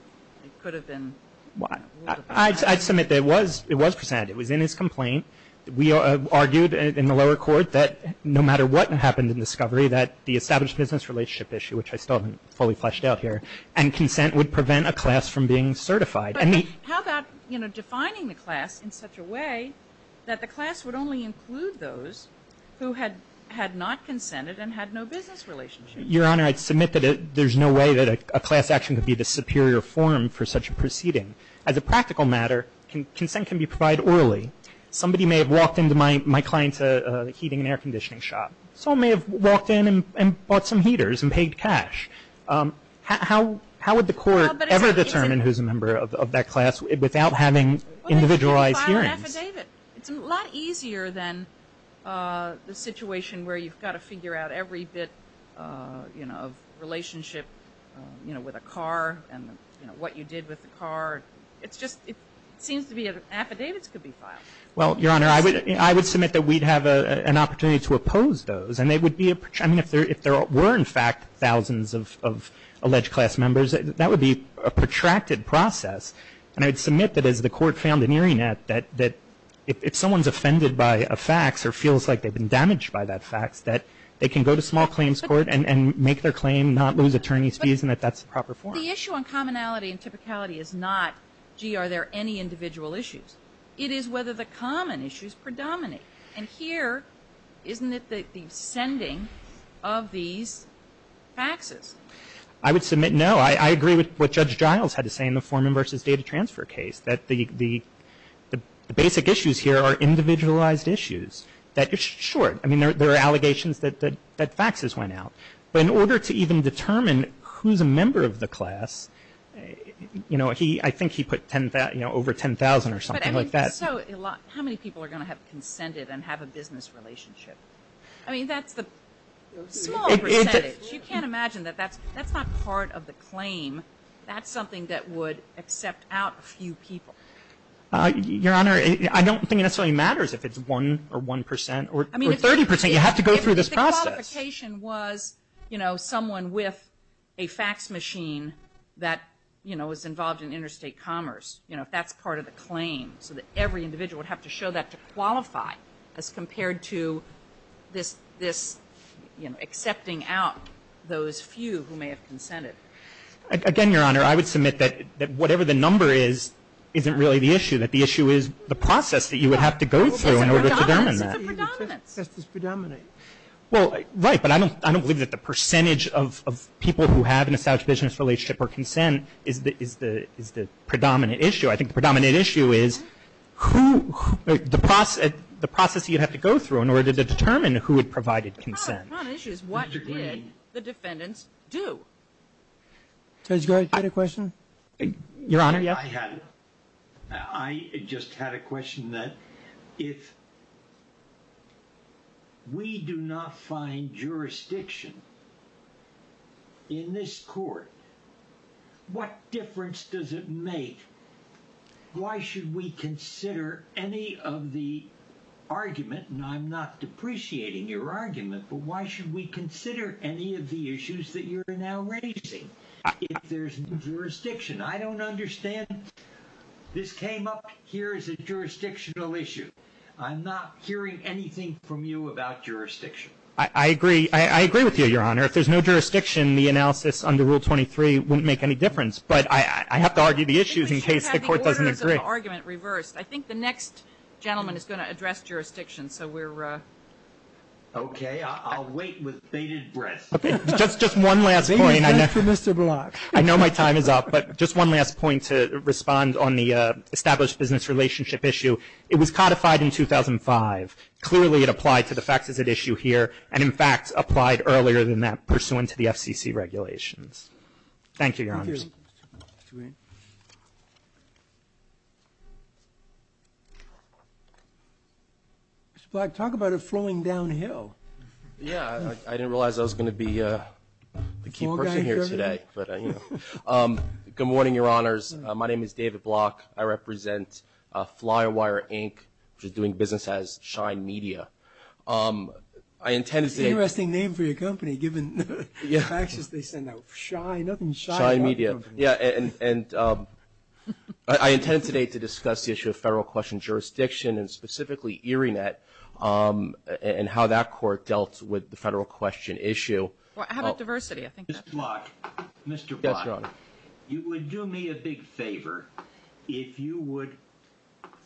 could have been ruled. I'd submit that it was presented. It was in his complaint. We argued in the lower court that no matter what happened in discovery, that the established business relationship issue, which I still haven't fully fleshed out here, and consent would prevent a class from being certified. But how about, you know, defining the class in such a way that the class would only include those who had not consented and had no business relationship? Your Honor, I'd submit that there's no way that a class action could be the superior form for such a proceeding. As a practical matter, consent can be provided orally. Somebody may have walked into my client's heating and air conditioning shop. Someone may have walked in and bought some heaters and paid cash. How would the court ever determine who's a member of that class without having individualized hearings? Well, they could file an affidavit. It's a lot easier than the situation where you've got to figure out every bit, you know, of relationship, you know, with a car and, you know, what you did with the car. It's just it seems to be affidavits could be filed. Well, Your Honor, I would submit that we'd have an opportunity to oppose those. I mean, if there were, in fact, thousands of alleged class members, that would be a protracted process. And I'd submit that as the court found an earring net that if someone's offended by a fax or feels like they've been damaged by that fax, that they can go to small claims court and make their claim, not lose attorney's fees, and that that's the proper form. The issue on commonality and typicality is not, gee, are there any individual issues. It is whether the common issues predominate. And here, isn't it the sending of these faxes? I would submit no. I agree with what Judge Giles had to say in the Foreman v. Data Transfer case, that the basic issues here are individualized issues that are short. I mean, there are allegations that faxes went out. But in order to even determine who's a member of the class, you know, I think he put, you know, over 10,000 or something like that. So how many people are going to have consented and have a business relationship? I mean, that's the small percentage. You can't imagine that that's not part of the claim. That's something that would accept out a few people. Your Honor, I don't think it necessarily matters if it's 1% or 1% or 30%. You have to go through this process. If the qualification was, you know, someone with a fax machine that, you know, is involved in interstate commerce, you know, that's part of the claim so that every individual would have to show that to qualify as compared to this, you know, accepting out those few who may have consented. Again, Your Honor, I would submit that whatever the number is isn't really the issue, that the issue is the process that you would have to go through in order to determine that. It's a predominance. It's a predominance. Well, right, but I don't believe that the percentage of people who have an established business relationship or consent is the predominant issue. I think the predominant issue is who, the process you have to go through in order to determine who had provided consent. The predominant issue is what did the defendants do? Judge, do you have a question? Your Honor, yes. I just had a question that if we do not find jurisdiction in this court, what difference does it make? Why should we consider any of the argument, and I'm not depreciating your argument, but why should we consider any of the issues that you're now raising if there's no jurisdiction? I don't understand. This came up here as a jurisdictional issue. I'm not hearing anything from you about jurisdiction. I agree. I agree with you, Your Honor. If there's no jurisdiction, the analysis under Rule 23 wouldn't make any difference, but I have to argue the issues in case the court doesn't agree. Because you have the orders of the argument reversed. I think the next gentleman is going to address jurisdiction, so we're ‑‑ Okay. I'll wait with bated breath. Okay. Just one last point. Thank you, Mr. Block. I know my time is up, but just one last point to respond on the established business relationship issue. It was codified in 2005. Clearly it applied to the facts as at issue here, and in fact applied earlier than that pursuant to the FCC regulations. Thank you, Your Honor. Thank you. Mr. Block, talk about it flowing downhill. Yeah. I didn't realize I was going to be the key person here today. Good morning, Your Honors. My name is David Block. I represent Flyer Wire Inc., which is doing business as Shine Media. I intend to say ‑‑ Interesting name for your company given the faxes they send out. Shine. Shine Media. Yeah, and I intend today to discuss the issue of federal question jurisdiction, and specifically Erie Net and how that court dealt with the federal question issue. How about diversity? Mr. Block, you would do me a big favor if you would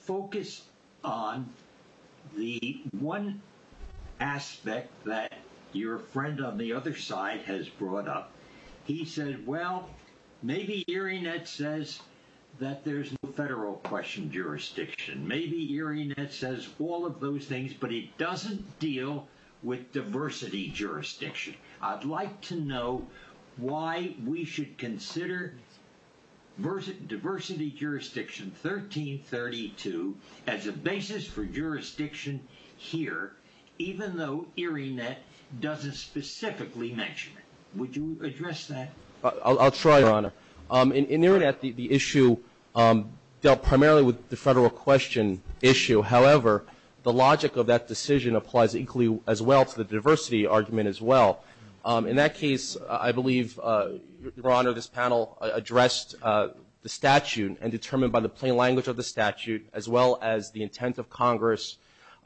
focus on the one aspect that your friend on the other side has brought up. He said, well, maybe Erie Net says that there's no federal question jurisdiction. Maybe Erie Net says all of those things, but it doesn't deal with diversity jurisdiction. I'd like to know why we should consider diversity jurisdiction 1332 as a basis for jurisdiction here, even though Erie Net doesn't specifically mention it. Would you address that? I'll try, Your Honor. In Erie Net, the issue dealt primarily with the federal question issue. However, the logic of that decision applies equally as well to the diversity argument as well. In that case, I believe, Your Honor, this panel addressed the statute and determined by the plain language of the statute as well as the intent of Congress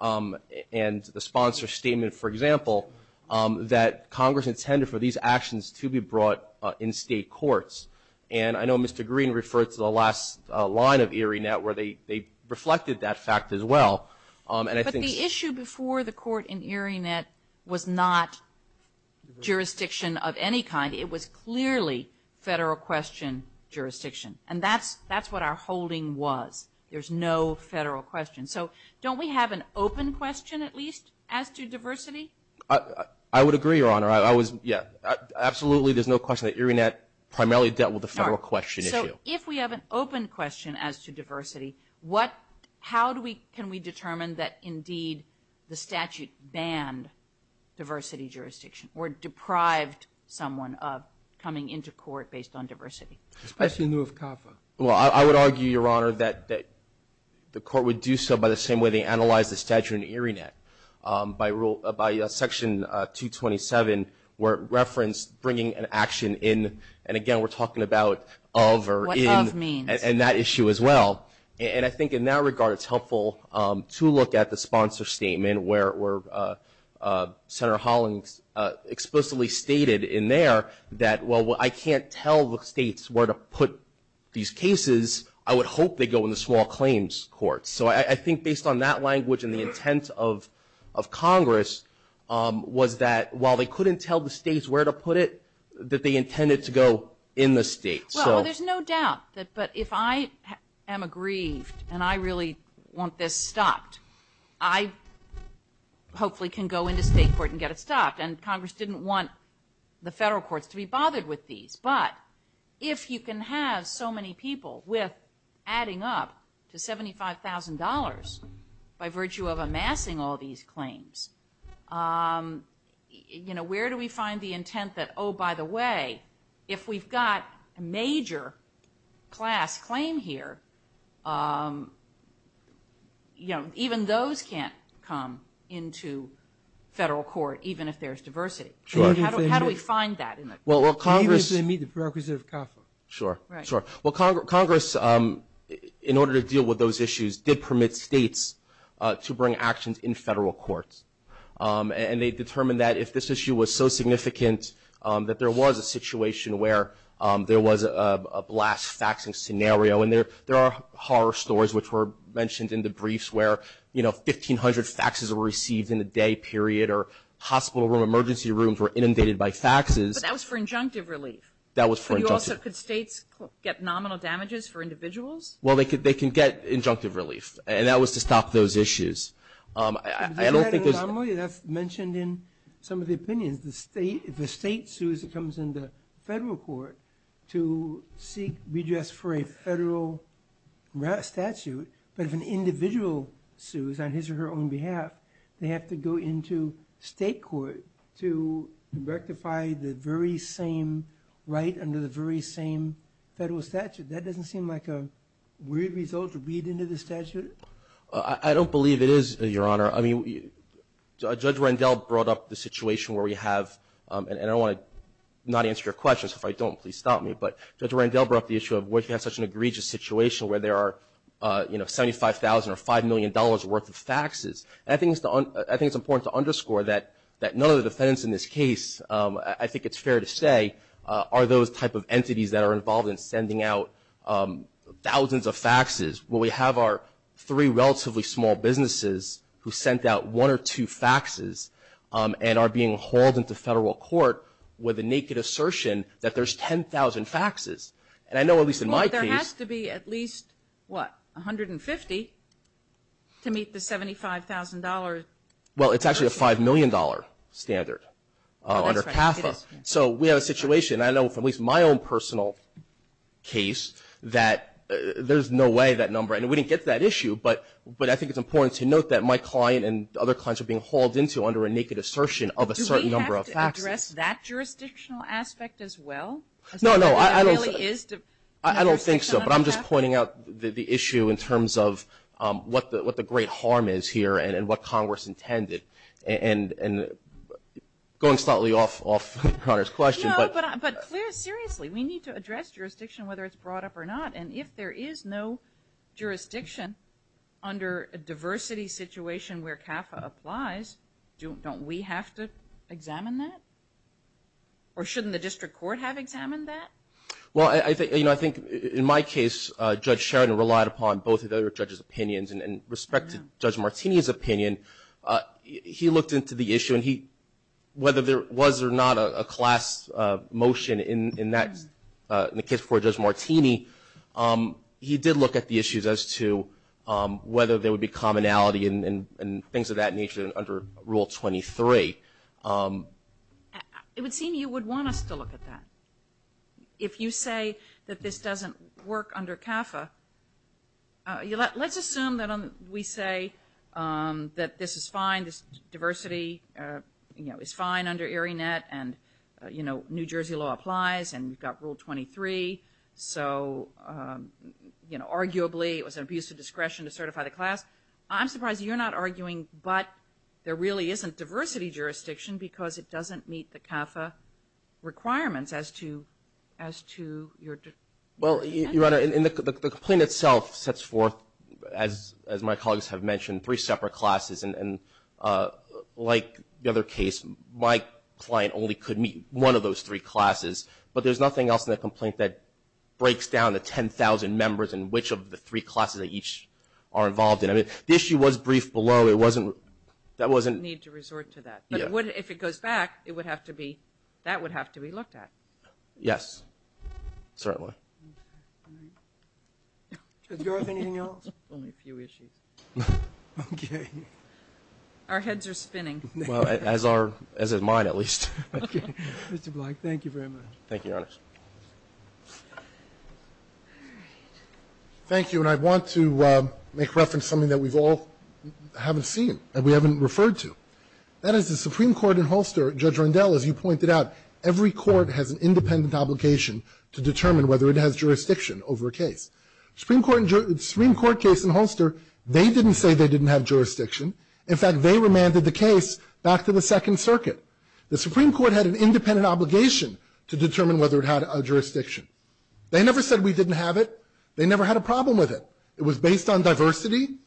and the sponsor's statement, for example, that Congress intended for these actions to be brought in state courts. And I know Mr. Green referred to the last line of Erie Net where they reflected that fact as well. But the issue before the court in Erie Net was not jurisdiction of any kind. It was clearly federal question jurisdiction. And that's what our holding was. There's no federal question. So don't we have an open question at least as to diversity? I would agree, Your Honor. Absolutely, there's no question that Erie Net primarily dealt with the federal question issue. So if we have an open question as to diversity, how can we determine that indeed the statute banned diversity jurisdiction or deprived someone of coming into court based on diversity? Especially in lieu of CAFA. I would argue, Your Honor, that the court would do so by the same way they analyzed the statute in Erie Net. By section 227 where it referenced bringing an action in. And, again, we're talking about of or in. What of means. And that issue as well. And I think in that regard it's helpful to look at the sponsor statement where Senator Hollings explicitly stated in there that, well, I can't tell the states where to put these cases. I would hope they go in the small claims courts. So I think based on that language and the intent of Congress, was that while they couldn't tell the states where to put it, that they intended to go in the states. Well, there's no doubt. But if I am aggrieved and I really want this stopped, I hopefully can go into state court and get it stopped. And Congress didn't want the federal courts to be bothered with these. But if you can have so many people with adding up to $75,000 by virtue of amassing all these claims, you know, where do we find the intent that, oh, by the way, if we've got a major class claim here, you know, even those can't come into federal court even if there's diversity. How do we find that? Even if they meet the prerequisites of CAFA. Sure, sure. Well, Congress, in order to deal with those issues, did permit states to bring actions in federal courts. And they determined that if this issue was so significant that there was a situation where there was a blast faxing scenario, and there are horror stories which were mentioned in the briefs where, you know, 1,500 faxes were received in a day period or hospital room, emergency rooms were inundated by faxes. But that was for injunctive relief. That was for injunctive. But you also could states get nominal damages for individuals? Well, they can get injunctive relief. And that was to stop those issues. I don't think there's – Did you add a nominal? That's mentioned in some of the opinions. If a state sues, it comes into federal court to seek redress for a federal statute. But if an individual sues on his or her own behalf, they have to go into state court to rectify the very same right under the very same federal statute. That doesn't seem like a weird result to read into the statute? I don't believe it is, Your Honor. I mean, Judge Rendell brought up the situation where we have – and I don't want to not answer your questions. If I don't, please stop me. But Judge Rendell brought up the issue of why you have such an egregious situation where there are, you know, $75,000 or $5 million worth of faxes. And I think it's important to underscore that none of the defendants in this case, I think it's fair to say, are those type of entities that are involved in sending out thousands of faxes. When we have our three relatively small businesses who sent out one or two faxes and are being hauled into federal court with a naked assertion that there's 10,000 faxes. And I know, at least in my case – Well, it's actually a $5 million standard under CAFA. So we have a situation, and I know from at least my own personal case, that there's no way that number – and we didn't get to that issue, but I think it's important to note that my client and other clients are being hauled into under a naked assertion of a certain number of faxes. Do we have to address that jurisdictional aspect as well? No, no. I don't think so. But I'm just pointing out the issue in terms of what the great harm is here and what Congress intended. And going slightly off of Conor's question. No, but seriously, we need to address jurisdiction, whether it's brought up or not. And if there is no jurisdiction under a diversity situation where CAFA applies, don't we have to examine that? Or shouldn't the district court have examined that? Well, I think in my case, Judge Sharon relied upon both of the other judges' opinions. And in respect to Judge Martini's opinion, he looked into the issue, and whether there was or not a class motion in the case before Judge Martini, he did look at the issues as to whether there would be commonality and things of that nature under Rule 23. It would seem you would want us to look at that. If you say that this doesn't work under CAFA, let's assume that we say that this is fine, this diversity is fine under ARINET and New Jersey law applies and we've got Rule 23. So arguably it was an abuse of discretion to certify the class. I'm surprised you're not arguing but there really isn't diversity jurisdiction because it doesn't meet the CAFA requirements as to your judgment. Well, Your Honor, the complaint itself sets forth, as my colleagues have mentioned, three separate classes. And like the other case, my client only could meet one of those three classes. But there's nothing else in the complaint that breaks down the 10,000 members and which of the three classes they each are involved in. I mean, the issue was briefed below. We need to resort to that. But if it goes back, that would have to be looked at. Yes, certainly. Judge Garth, anything else? Only a few issues. Okay. Our heads are spinning. As are mine, at least. Okay. Mr. Blank, thank you very much. Thank you, Your Honor. All right. Thank you. And I want to make reference to something that we've all haven't seen and we haven't referred to. That is, the Supreme Court in Holster, Judge Rendell, as you pointed out, every court has an independent obligation to determine whether it has jurisdiction over a case. The Supreme Court case in Holster, they didn't say they didn't have jurisdiction. In fact, they remanded the case back to the Second Circuit. The Supreme Court had an independent obligation to determine whether it had jurisdiction. They never said we didn't have it. They never had a problem with it. It was based on diversity.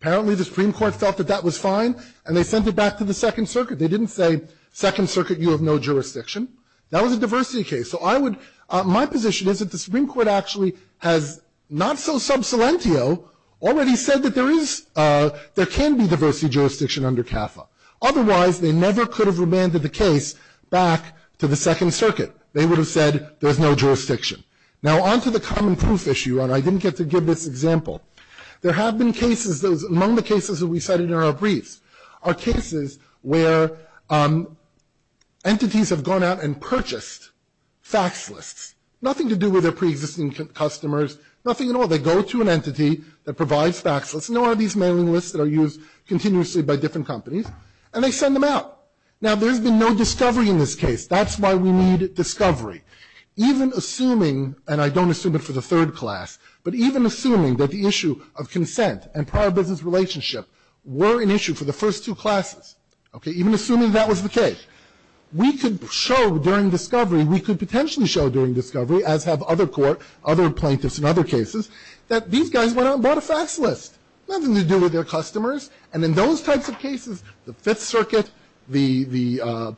Apparently, the Supreme Court felt that that was fine, and they sent it back to the Second Circuit. They didn't say, Second Circuit, you have no jurisdiction. That was a diversity case. So I would, my position is that the Supreme Court actually has, not so sub salientio, already said that there is, there can be diversity jurisdiction under CAFA. Otherwise, they never could have remanded the case back to the Second Circuit. They would have said there is no jurisdiction. Now, on to the common proof issue, and I didn't get to give this example. There have been cases, among the cases that we cited in our briefs, are cases where entities have gone out and purchased fax lists, nothing to do with their preexisting customers, nothing at all. They go to an entity that provides fax lists. Nor are these mailing lists that are used continuously by different companies, and they send them out. Now, there's been no discovery in this case. That's why we need discovery. Even assuming, and I don't assume it for the third class, but even assuming that the issue of consent and prior business relationship were an issue for the first two classes, okay, even assuming that was the case, we could show during discovery, we could potentially show during discovery, as have other court, other plaintiffs in other cases, that these guys went out and bought a fax list, nothing to do with their customers. And in those types of cases, the Fifth Circuit, the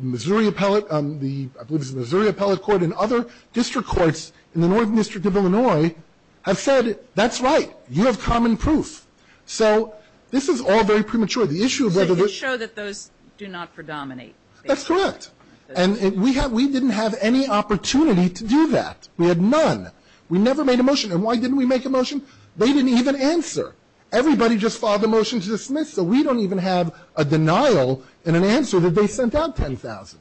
Missouri Appellate, I believe it was the Missouri Appellate Court and other district courts in the Northern District of Illinois have said, that's right, you have common proof. So this is all very premature. The issue of whether this. So you show that those do not predominate. That's correct. And we didn't have any opportunity to do that. We had none. We never made a motion. And why didn't we make a motion? They didn't even answer. Everybody just filed a motion to dismiss. So we don't even have a denial and an answer that they sent out 10,000.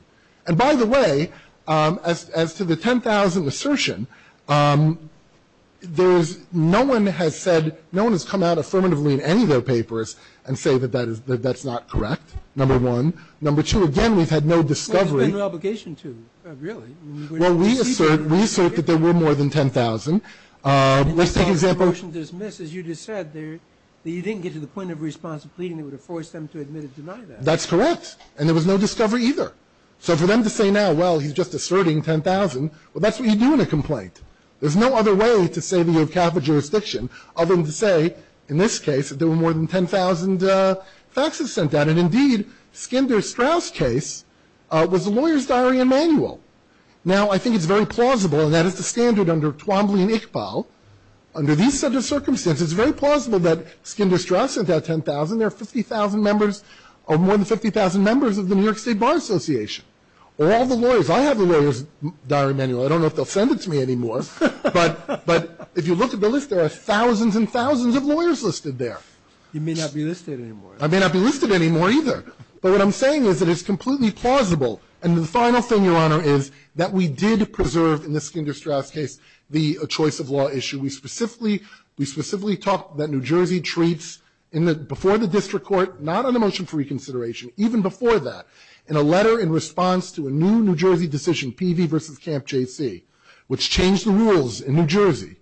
And by the way, as to the 10,000 assertion, there is, no one has said, no one has come out affirmatively in any of their papers and say that that is, that that's not correct, number one. Number two, again, we've had no discovery. There's been no obligation to, really. Well, we assert, we assert that there were more than 10,000. Let's take an example. As you just said, you didn't get to the point of responsive pleading that would have forced them to admit or deny that. That's correct. And there was no discovery either. So for them to say now, well, he's just asserting 10,000, well, that's what you do in a complaint. There's no other way to say that you have capital jurisdiction other than to say, in this case, that there were more than 10,000 faxes sent out. And indeed, Skinner-Strauss case was a lawyer's diary and manual. Now, I think it's very plausible, and that is the standard under Twombly and Iqbal. Under these set of circumstances, it's very plausible that Skinner-Strauss sent out 10,000. There are 50,000 members, or more than 50,000 members of the New York State Bar Association. Or all the lawyers. I have a lawyer's diary manual. I don't know if they'll send it to me anymore. But if you look at the list, there are thousands and thousands of lawyers listed there. You may not be listed anymore. I may not be listed anymore, either. But what I'm saying is that it's completely plausible. And the final thing, Your Honor, is that we did preserve, in the Skinner-Strauss case, the choice of law issue. We specifically talked that New Jersey treats, before the district court, not on a motion for reconsideration, even before that, in a letter in response to a new New Jersey decision, PV v. Camp JC, which changed the rules in New Jersey,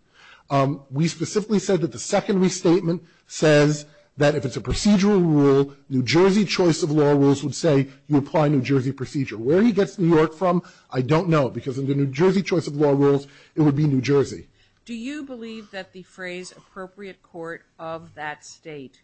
we specifically said that the secondary statement says that if it's a procedural rule, New Jersey choice of law rules would say you apply New Jersey procedure. Where he gets New York from, I don't know, because in the New Jersey choice of law rules, it would be New Jersey. Sotomayor Do you believe that the phrase appropriate court of that State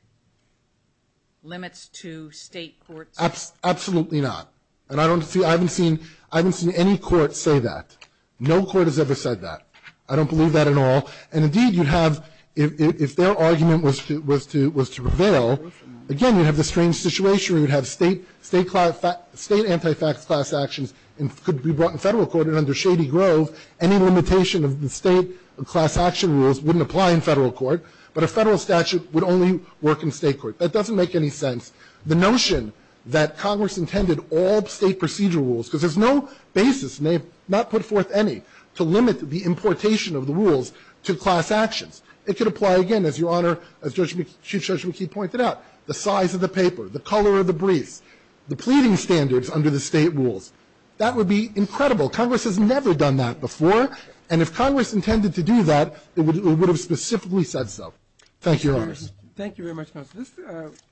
limits to State courts? Carvin Absolutely not. And I don't see, I haven't seen, I haven't seen any court say that. No court has ever said that. I don't believe that at all. And, indeed, you'd have, if their argument was to prevail, again, you'd have this strange situation where you'd have State anti-fax class actions and could be brought in Federal court. And under Shady Grove, any limitation of the State class action rules wouldn't apply in Federal court. But a Federal statute would only work in State court. That doesn't make any sense. The notion that Congress intended all State procedure rules, because there's no basis, not put forth any, to limit the importation of the rules to class actions. It could apply again, as Your Honor, as Chief Judge McKee pointed out, the size of the paper, the color of the briefs, the pleading standards under the State rules. That would be incredible. Congress has never done that before. And if Congress intended to do that, it would have specifically said so. Thank you, Your Honor. Roberts Thank you very much, counsel. This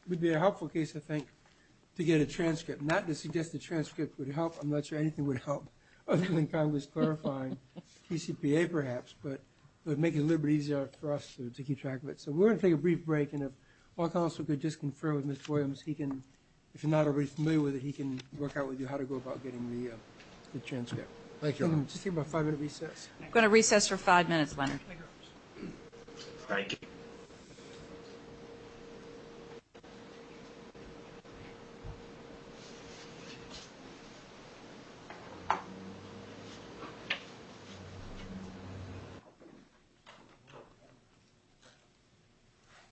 would be a helpful case, I think, to get a transcript, not to suggest a transcript would help. I'm not sure anything would help other than Congress clarifying PCPA, perhaps. But it would make it a little bit easier for us to keep track of it. So we're going to take a brief break. And if our counsel could just confer with Ms. Williams, he can, if you're not already familiar with it, he can work out with you how to go about getting the transcript. Thank you, Your Honor. Just give him about five minute recess. We're going to recess for five minutes, Leonard. Thank you.